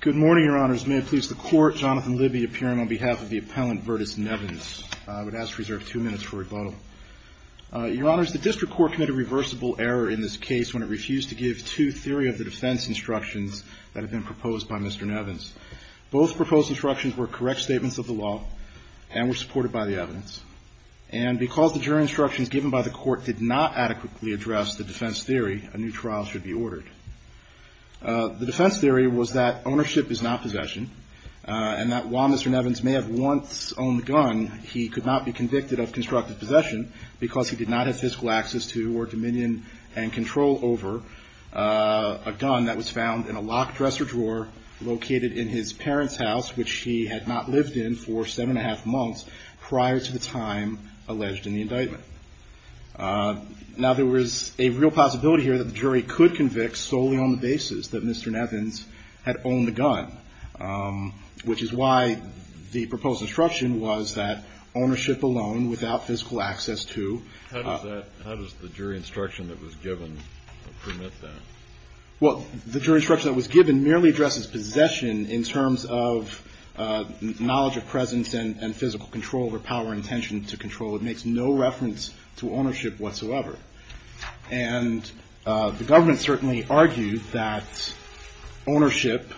Good morning, your honors. May it please the court, Jonathan Libby appearing on behalf of the appellant Verdis Nevins. I would ask to reserve two minutes for rebuttal. Your honors, the district court committed a reversible error in this case when it refused to give two theory of the defense instructions that had been proposed by Mr. Nevins. Both proposed instructions were correct statements of the law and were supported by the evidence. And because the jury instructions given by the court did not adequately address the defense theory, a new trial should be ordered. The defense theory was that ownership is not possession and that while Mr. Nevins may have once owned a gun, he could not be convicted of constructive possession because he did not have fiscal access to or dominion and control over a gun that was found in a locked dresser drawer located in his parents' house, which he had not lived in for seven and a half months prior to the time alleged in the indictment. Now, there was a real possibility here that the jury could convict solely on the basis that Mr. Nevins had owned the gun, which is why the proposed instruction was that ownership alone without fiscal access to. How does the jury instruction that was given permit that? Well, the jury instruction that was given merely addresses possession in terms of knowledge of presence and physical control over power and intention to control. It makes no reference to ownership whatsoever. And the government certainly argued that ownership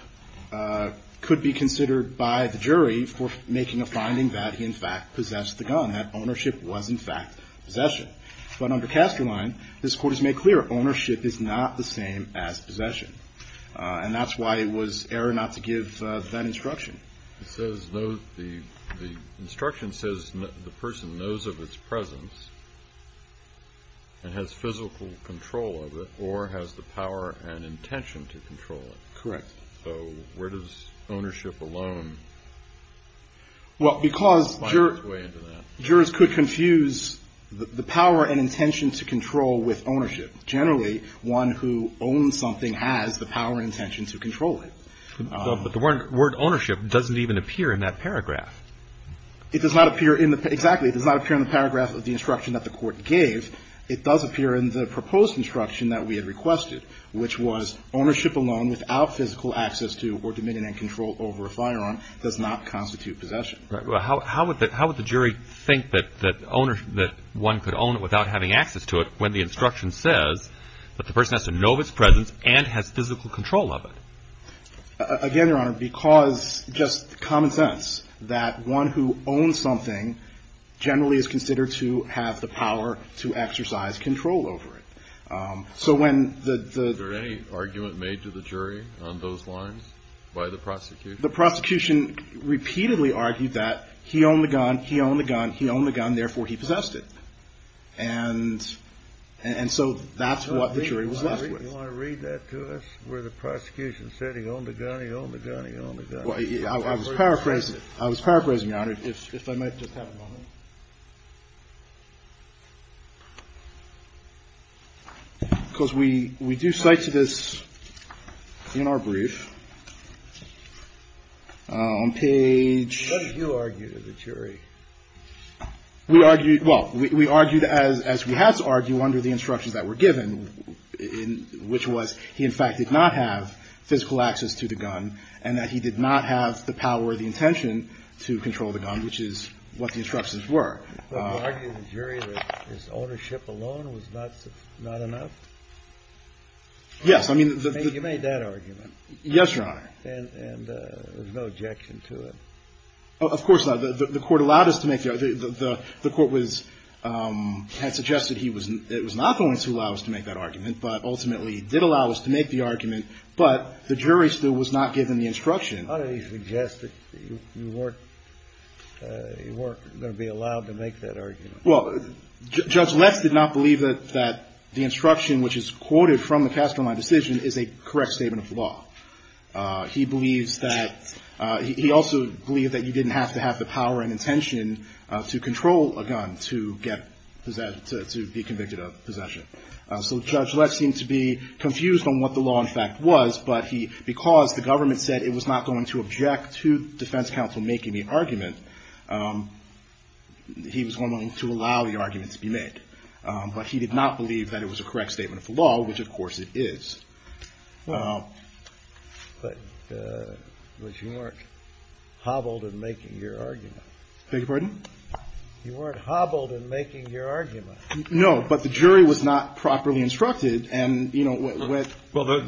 could be considered by the jury for making a finding that he, in fact, possessed the gun, that ownership was, in fact, possession. But under Casterline, this Court has made clear ownership is not the same as possession. And that's why it was error not to give that instruction. It says the instruction says the person knows of its presence and has physical control of it or has the power and intention to control it. Correct. So where does ownership alone find its way into that? Well, because jurors could confuse the power and intention to control with ownership. Generally, one who owns something has the power and intention to control it. But the word ownership doesn't even appear in that paragraph. It does not appear in the – exactly. It does not appear in the paragraph of the instruction that the Court gave. It does appear in the proposed instruction that we had requested, which was ownership alone without physical access to or dominion and control over a firearm does not constitute possession. How would the jury think that one could own it without having access to it when the instruction says that the person has to know of its presence and has physical control of it? Again, Your Honor, because just common sense that one who owns something generally is considered to have the power to exercise control over it. So when the – Was there any argument made to the jury on those lines by the prosecution? The prosecution repeatedly argued that he owned the gun, he owned the gun, he owned the gun, therefore he possessed it. And so that's what the jury was left with. Do you want to read that to us where the prosecution said he owned the gun, he owned the gun, he owned the gun? I was paraphrasing, Your Honor, if I might just have a moment. Because we do cite to this in our brief on page – We argued – well, we argued as we had to argue under the instructions that were given, which was he, in fact, did not have physical access to the gun and that he did not have the power or the intention to control the gun, which is what the instructions were. But you argued to the jury that his ownership alone was not enough? Yes. You made that argument. Yes, Your Honor. And there's no objection to it. Of course not. The court allowed us to make the – the court was – had suggested he was – it was not the witness who allowed us to make that argument, but ultimately he did allow us to make the argument. But the jury still was not given the instruction. How did he suggest that you weren't – you weren't going to be allowed to make that argument? Well, Judge Less did not believe that the instruction, which is quoted from the Castroline decision, is a correct statement of the law. He believes that – he also believed that you didn't have to have the power and intention to control a gun to get – to be convicted of possession. So Judge Less seemed to be confused on what the law, in fact, was, but he – because the government said it was not going to object to defense counsel making the argument, he was willing to allow the argument to be made. But he did not believe that it was a correct statement of the law, which, of course, it is. Well. But you weren't hobbled in making your argument. Beg your pardon? You weren't hobbled in making your argument. No, but the jury was not properly instructed, and, you know, with – Well,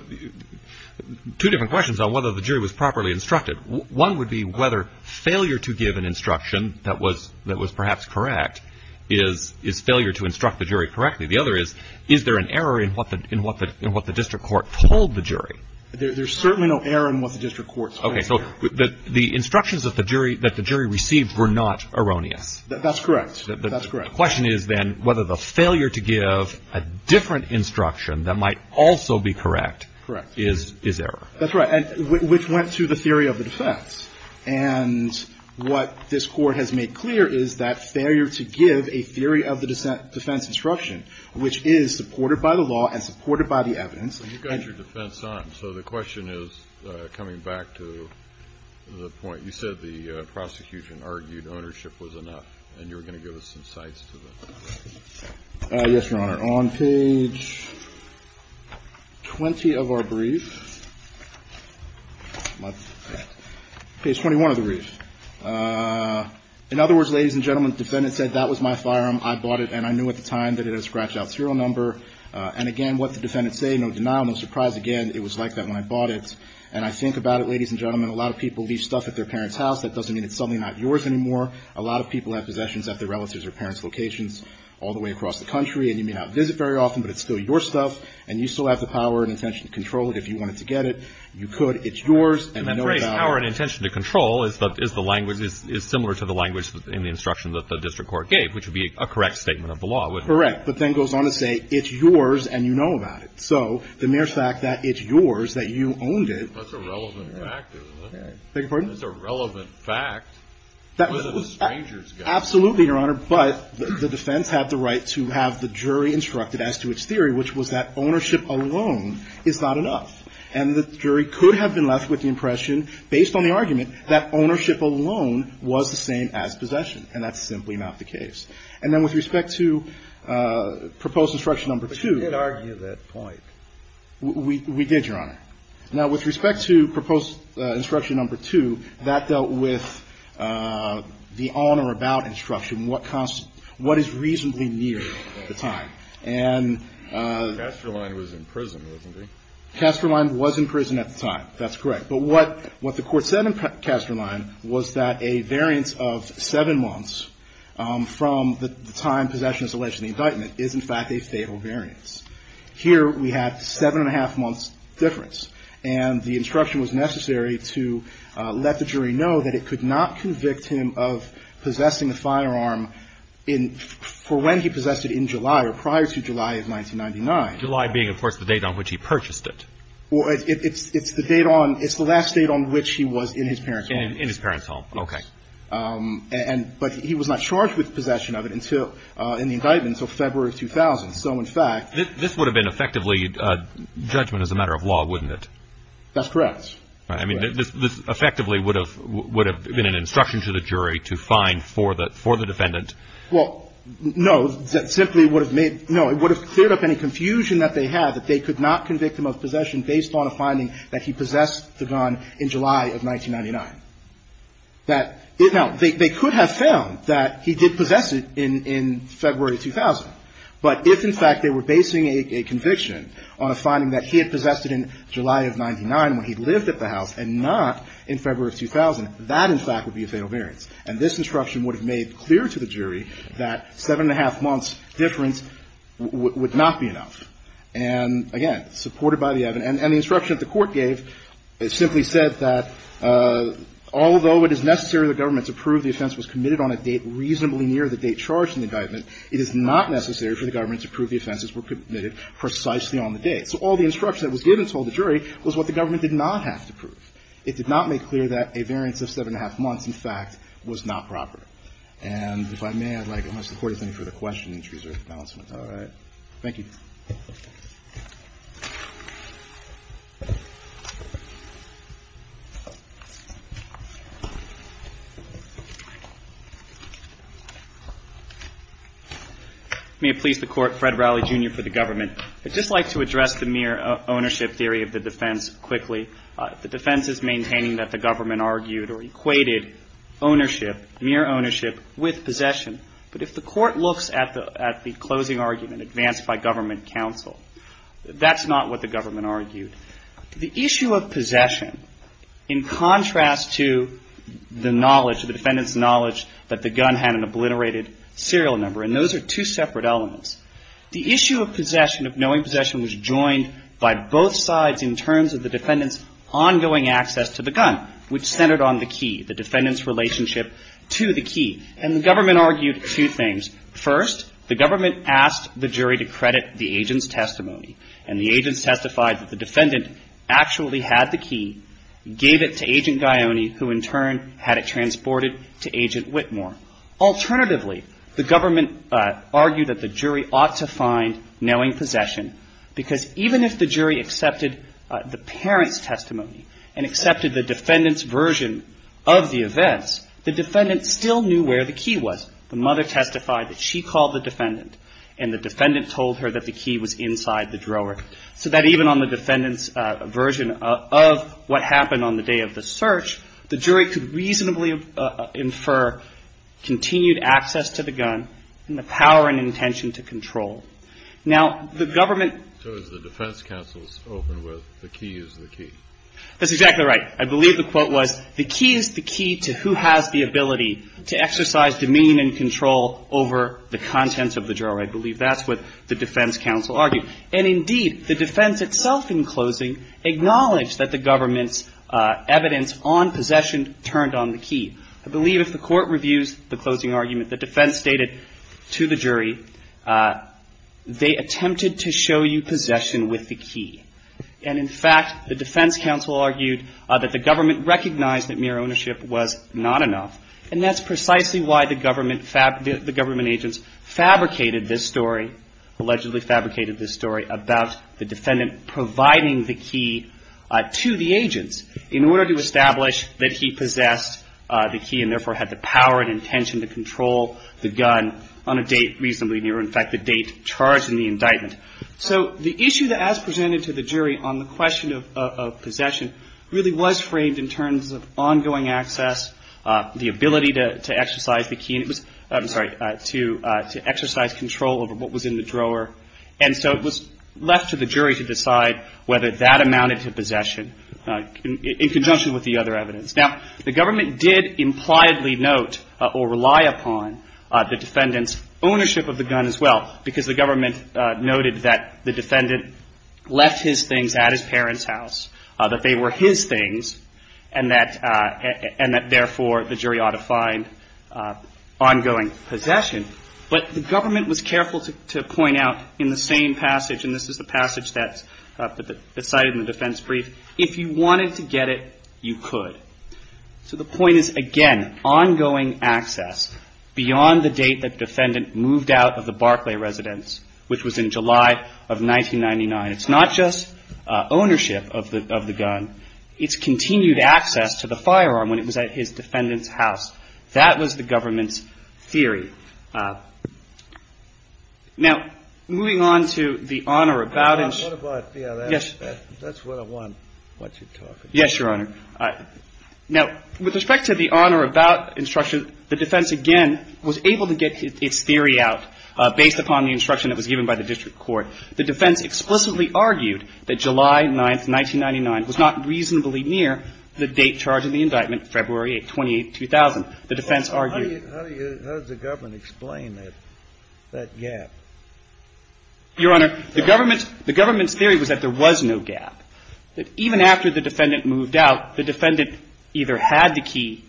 two different questions on whether the jury was properly instructed. One would be whether failure to give an instruction that was – that was perhaps correct is – is failure to instruct the jury correctly. The other is, is there an error in what the – in what the – in what the district court told the jury? There's certainly no error in what the district court said. Okay. So the instructions that the jury – that the jury received were not erroneous. That's correct. That's correct. The question is, then, whether the failure to give a different instruction that might also be correct is – is error. That's right. And which went to the theory of the defense. And what this Court has made clear is that failure to give a theory of the defense instruction, which is supported by the law and supported by the evidence. So you've got your defense on. So the question is, coming back to the point, you said the prosecution argued ownership was enough, and you were going to give us some sides to it. Yes, Your Honor. We are on page 20 of our brief. Page 21 of the brief. In other words, ladies and gentlemen, the defendant said, that was my firearm. I bought it, and I knew at the time that it had a scratch-out serial number. And, again, what the defendant said, no denial, no surprise. Again, it was like that when I bought it. And I think about it, ladies and gentlemen, a lot of people leave stuff at their parents' house. That doesn't mean it's suddenly not yours anymore. A lot of people have possessions at their relatives' or parents' locations all the way across the country. And you may not visit very often, but it's still your stuff. And you still have the power and intention to control it if you wanted to get it. You could. It's yours. And then the phrase, power and intention to control, is the language, is similar to the language in the instruction that the district court gave, which would be a correct statement of the law, wouldn't it? Correct. But then it goes on to say, it's yours, and you know about it. So the mere fact that it's yours, that you owned it. That's a relevant fact, isn't it? I beg your pardon? That's a relevant fact. Absolutely, Your Honor. But the defense had the right to have the jury instructed as to its theory, which was that ownership alone is not enough. And the jury could have been left with the impression, based on the argument, that ownership alone was the same as possession. And that's simply not the case. And then with respect to proposed instruction number two. But you did argue that point. We did, Your Honor. Now, with respect to proposed instruction number two, that dealt with the on or about instruction, what is reasonably near the time. And. Casterline was in prison, wasn't he? Casterline was in prison at the time. That's correct. But what the court said in Casterline was that a variance of seven months from the time possession is alleged in the indictment is, in fact, a fatal variance. Here we have seven and a half months difference. And the instruction was necessary to let the jury know that it could not convict him of possessing a firearm in – for when he possessed it in July or prior to July of 1999. July being, of course, the date on which he purchased it. Well, it's the date on – it's the last date on which he was in his parents' home. In his parents' home. Okay. And – but he was not charged with possession of it until – in the indictment until February of 2000. So, in fact – This would have been effectively a judgment as a matter of law, wouldn't it? That's correct. I mean, this effectively would have been an instruction to the jury to find for the defendant. Well, no. That simply would have made – no. It would have cleared up any confusion that they had that they could not convict him of possession based on a finding that he possessed the gun in July of 1999. That – now, they could have found that he did possess it in February of 2000. But if, in fact, they were basing a conviction on a finding that he had possessed it in July of 1999 when he lived at the house and not in February of 2000, that, in fact, would be a fatal variance. And this instruction would have made clear to the jury that 7-1⁄2 months difference would not be enough. And, again, supported by the evidence – and the instruction that the Court gave simply said that although it is necessary for the government to prove the offense was committed on a date reasonably near the date charged in the indictment, it is not necessary for the government to prove the offenses were committed precisely on the date. So all the instruction that was given to all the jury was what the government did not have to prove. It did not make clear that a variance of 7-1⁄2 months, in fact, was not proper. And if I may, I'd like – unless the Court has any further questions or announcements. All right. Thank you. May it please the Court, Fred Rowley, Jr. for the government. I'd just like to address the mere ownership theory of the defense quickly. The defense is maintaining that the government argued or equated ownership, mere ownership, with possession. But if the Court looks at the closing argument advanced by government counsel, that's not what the government argued. The issue of possession, in contrast to the knowledge, the defendant's knowledge that the gun had an obliterated serial number, and those are two separate elements. The issue of possession, of knowing possession, was joined by both sides in terms of the defendant's ongoing access to the gun, which centered on the key, the defendant's relationship to the key. And the government argued two things. First, the government asked the jury to credit the agent's testimony. And the agents testified that the defendant actually had the key, gave it to Agent Guioni, who in turn had it transported to Agent Whitmore. Alternatively, the government argued that the jury ought to find knowing possession, because even if the jury accepted the parent's testimony and accepted the defendant's version of the events, the defendant still knew where the key was. The mother testified that she called the defendant, and the defendant told her that the key was inside the drawer, so that even on the defendant's version of what happened on the day of the search, the jury could reasonably infer continued access to the gun and the power and intention to control. Now, the government – So it's the defense counsel's open with the key is the key. That's exactly right. I believe the quote was, the key is the key to who has the ability to exercise dominion and control over the contents of the drawer. I believe that's what the defense counsel argued. And indeed, the defense itself in closing acknowledged that the government's evidence on possession turned on the key. I believe if the court reviews the closing argument the defense stated to the jury, they attempted to show you possession with the key. And in fact, the defense counsel argued that the government recognized that mere ownership was not enough, and that's precisely why the government agents fabricated this story, allegedly fabricated this story, about the defendant providing the key to the agents in order to establish that he possessed the key and therefore had the power and intention to control the gun on a date reasonably near. In fact, the date charged in the indictment. So the issue that as presented to the jury on the question of possession really was framed in terms of ongoing access, the ability to exercise the key, and it was – I'm sorry, to exercise control over what was in the drawer. And so it was left to the jury to decide whether that amounted to possession in conjunction with the other evidence. Now, the government did impliedly note or rely upon the defendant's ownership of the gun as well, because the government noted that the defendant left his things at his parents' house, that they were his things, and that therefore the jury ought to find ongoing possession. But the government was careful to point out in the same passage, and this is the passage that's cited in the defense brief, if you wanted to get it, you could. So the point is, again, ongoing access beyond the date that the defendant moved out of the Barclay residence, which was in July of 1999. It's not just ownership of the gun. It's continued access to the firearm when it was at his defendant's house. That was the government's theory. Now, moving on to the honor about instruction. Yes, Your Honor. Now, with respect to the honor about instruction, the defense, again, was able to get its theory out based upon the instruction that was given by the district court. The defense explicitly argued that July 9th, 1999, was not reasonably near the date charged in the indictment, February 28th, 2000. The defense argued ---- How does the government explain that gap? Your Honor, the government's theory was that there was no gap. That even after the defendant moved out, the defendant either had the key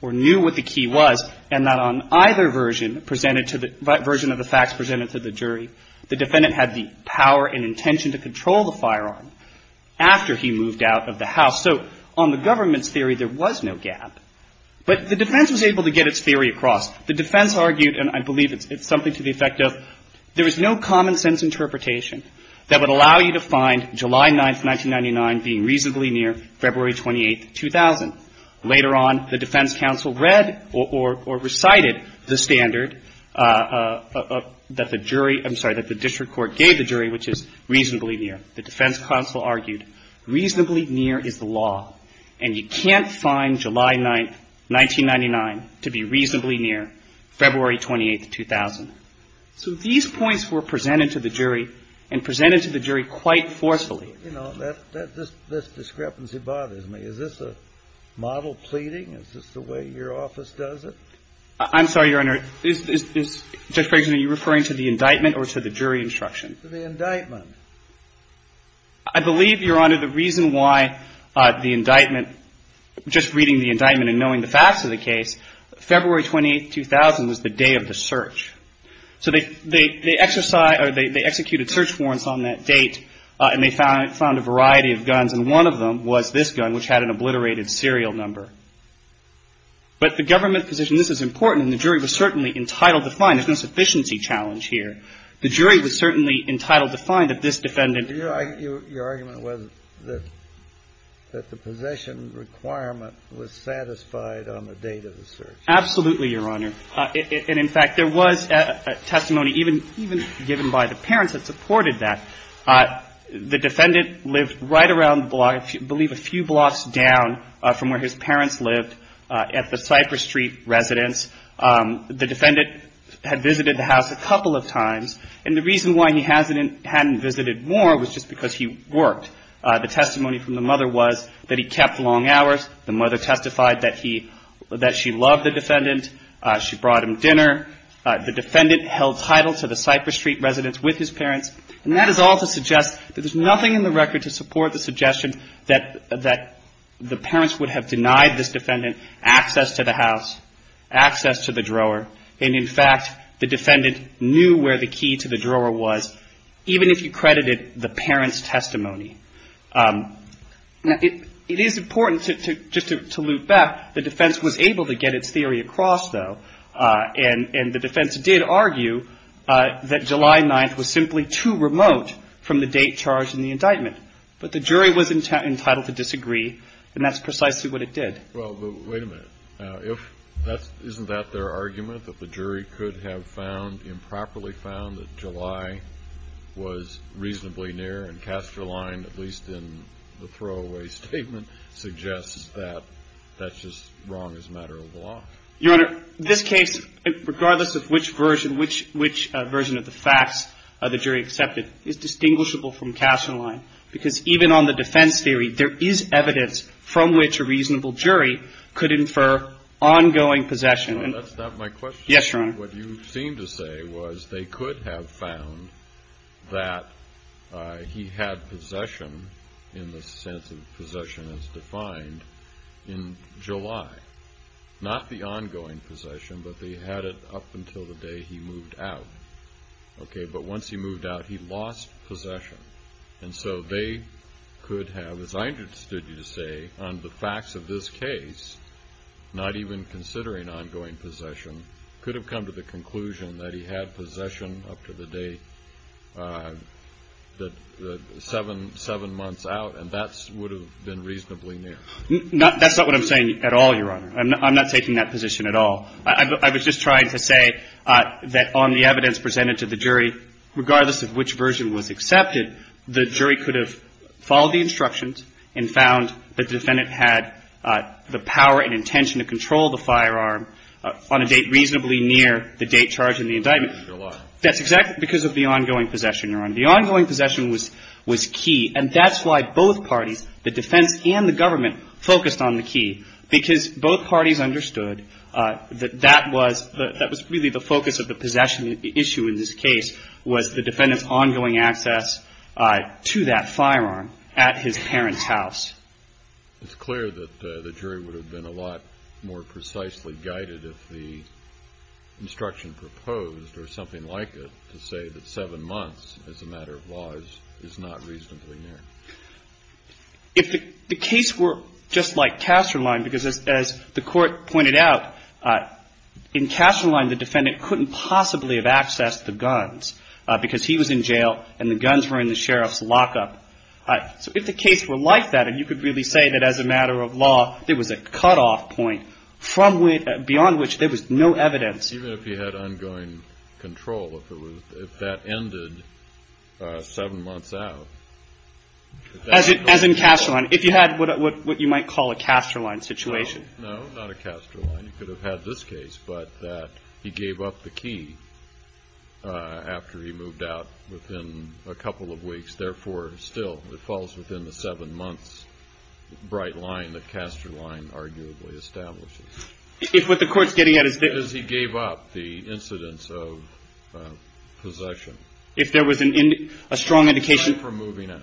or knew what the key was, and that on either version presented to the version of the facts presented to the jury, the defendant had the power and intention to control the firearm after he moved out of the house. So on the government's theory, there was no gap. But the defense was able to get its theory across. The defense argued, and I believe it's something to the effect of, there is no common sense interpretation that would allow you to find July 9th, 1999, being reasonably near February 28th, 2000. Later on, the defense counsel read or recited the standard that the jury ---- I'm sorry, that the district court gave the jury, which is reasonably near. The defense counsel argued reasonably near is the law. And you can't find July 9th, 1999, to be reasonably near February 28th, 2000. So these points were presented to the jury and presented to the jury quite forcefully. You know, this discrepancy bothers me. Is this a model pleading? Is this the way your office does it? I'm sorry, Your Honor. I'm sorry. Is, Judge Briggs, are you referring to the indictment or to the jury instruction? To the indictment. I believe, Your Honor, the reason why the indictment, just reading the indictment and knowing the facts of the case, February 28th, 2000 was the day of the search. So they executed search warrants on that date, and they found a variety of guns, and one of them was this gun, which had an obliterated serial number. But the government position, this is important, and the jury was certainly entitled to find it. There's no sufficiency challenge here. The jury was certainly entitled to find that this defendant ---- Your argument was that the possession requirement was satisfied on the date of the search. Absolutely, Your Honor. And, in fact, there was testimony even given by the parents that supported that. The defendant lived right around, I believe, a few blocks down from where his parents lived at the Cypress Street residence. The defendant had visited the house a couple of times, and the reason why he hadn't visited more was just because he worked. The testimony from the mother was that he kept long hours. The mother testified that she loved the defendant. She brought him dinner. The defendant held title to the Cypress Street residence with his parents. And that is all to suggest that there's nothing in the record to support the suggestion that the parents would have denied this defendant access to the house, access to the drawer. And, in fact, the defendant knew where the key to the drawer was, even if you credited the parents' testimony. Now, it is important just to loop back. The defense was able to get its theory across, though. And the defense did argue that July 9th was simply too remote from the date charged in the indictment. But the jury was entitled to disagree, and that's precisely what it did. Well, but wait a minute. Isn't that their argument, that the jury could have found, improperly found, that July was reasonably near, and Casterline, at least in the throwaway statement, suggests that that's just wrong as a matter of law? Your Honor, this case, regardless of which version of the facts the jury accepted, is distinguishable from Casterline, because even on the defense theory, there is evidence from which a reasonable jury could infer ongoing possession. That's not my question. Yes, Your Honor. What you seem to say was they could have found that he had possession, in the sense of possession as defined, in July. Not the ongoing possession, but they had it up until the day he moved out. Okay, but once he moved out, he lost possession. And so they could have, as I understood you to say, on the facts of this case, not even considering ongoing possession, could have come to the conclusion that he had possession up to the date, seven months out, and that would have been reasonably near. That's not what I'm saying at all, Your Honor. I'm not taking that position at all. I was just trying to say that on the evidence presented to the jury, regardless of which version was accepted, the jury could have followed the instructions and found that the defendant had the power and intention to control the firearm on a date reasonably near the date charged in the indictment. You're lying. That's exactly because of the ongoing possession, Your Honor. The ongoing possession was key, and that's why both parties, the defense and the government, focused on the key, because both parties understood that that was really the focus of the possession issue in this case, was the defendant's ongoing access to that firearm at his parents' house. It's clear that the jury would have been a lot more precisely guided if the instruction proposed, or something like it, to say that seven months as a matter of law is not reasonably near. If the case were just like Kasterlein, because as the Court pointed out, in Kasterlein the defendant couldn't possibly have accessed the guns because he was in jail and the guns were in the sheriff's lockup. So if the case were like that, and you could really say that as a matter of law, there was a cutoff point beyond which there was no evidence. Even if he had ongoing control, if that ended seven months out. As in Kasterlein. If you had what you might call a Kasterlein situation. No, not a Kasterlein. You could have had this case, but he gave up the key after he moved out within a couple of weeks. Therefore, still, it falls within the seven months bright line that Kasterlein arguably establishes. If what the Court's getting at is that. As he gave up the incidence of possession. If there was a strong indication. Aside from moving out.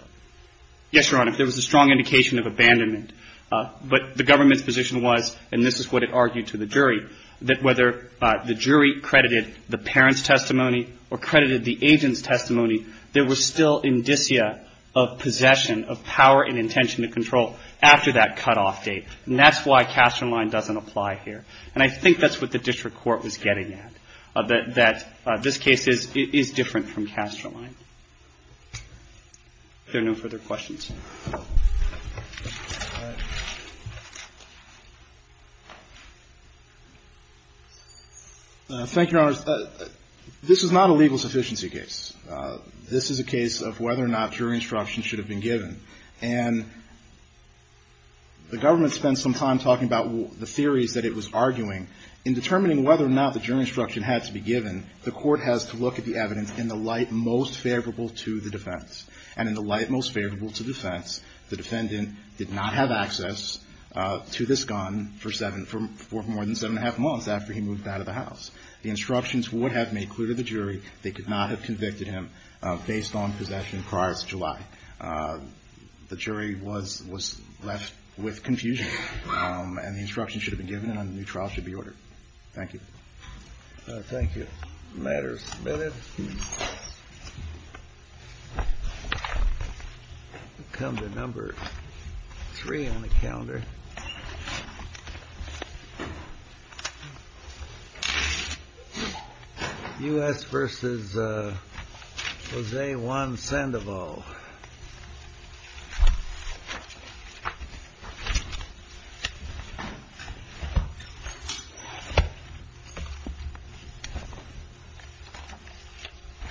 Yes, Your Honor. If there was a strong indication of abandonment. But the government's position was, and this is what it argued to the jury, that whether the jury credited the parent's testimony or credited the agent's testimony, there was still indicia of possession of power and intention to control after that cutoff date. And that's why Kasterlein doesn't apply here. And I think that's what the district court was getting at. That this case is different from Kasterlein. If there are no further questions. Thank you, Your Honors. This is not a legal sufficiency case. This is a case of whether or not jury instruction should have been given. And the government spent some time talking about the theories that it was arguing. In determining whether or not the jury instruction had to be given, the Court has to look at the evidence in the light most favorable to the defense. And in the light most favorable to the defense, the defendant did not have access to this gun for more than seven and a half months after he moved out of the house. The instructions would have made clear to the jury they could not have convicted him based on possession prior to July. The jury was left with confusion. And the instructions should have been given and a new trial should be ordered. Thank you. Thank you. The matter is submitted. We'll come to number three on the calendar. U.S. versus Jose Juan Sandoval.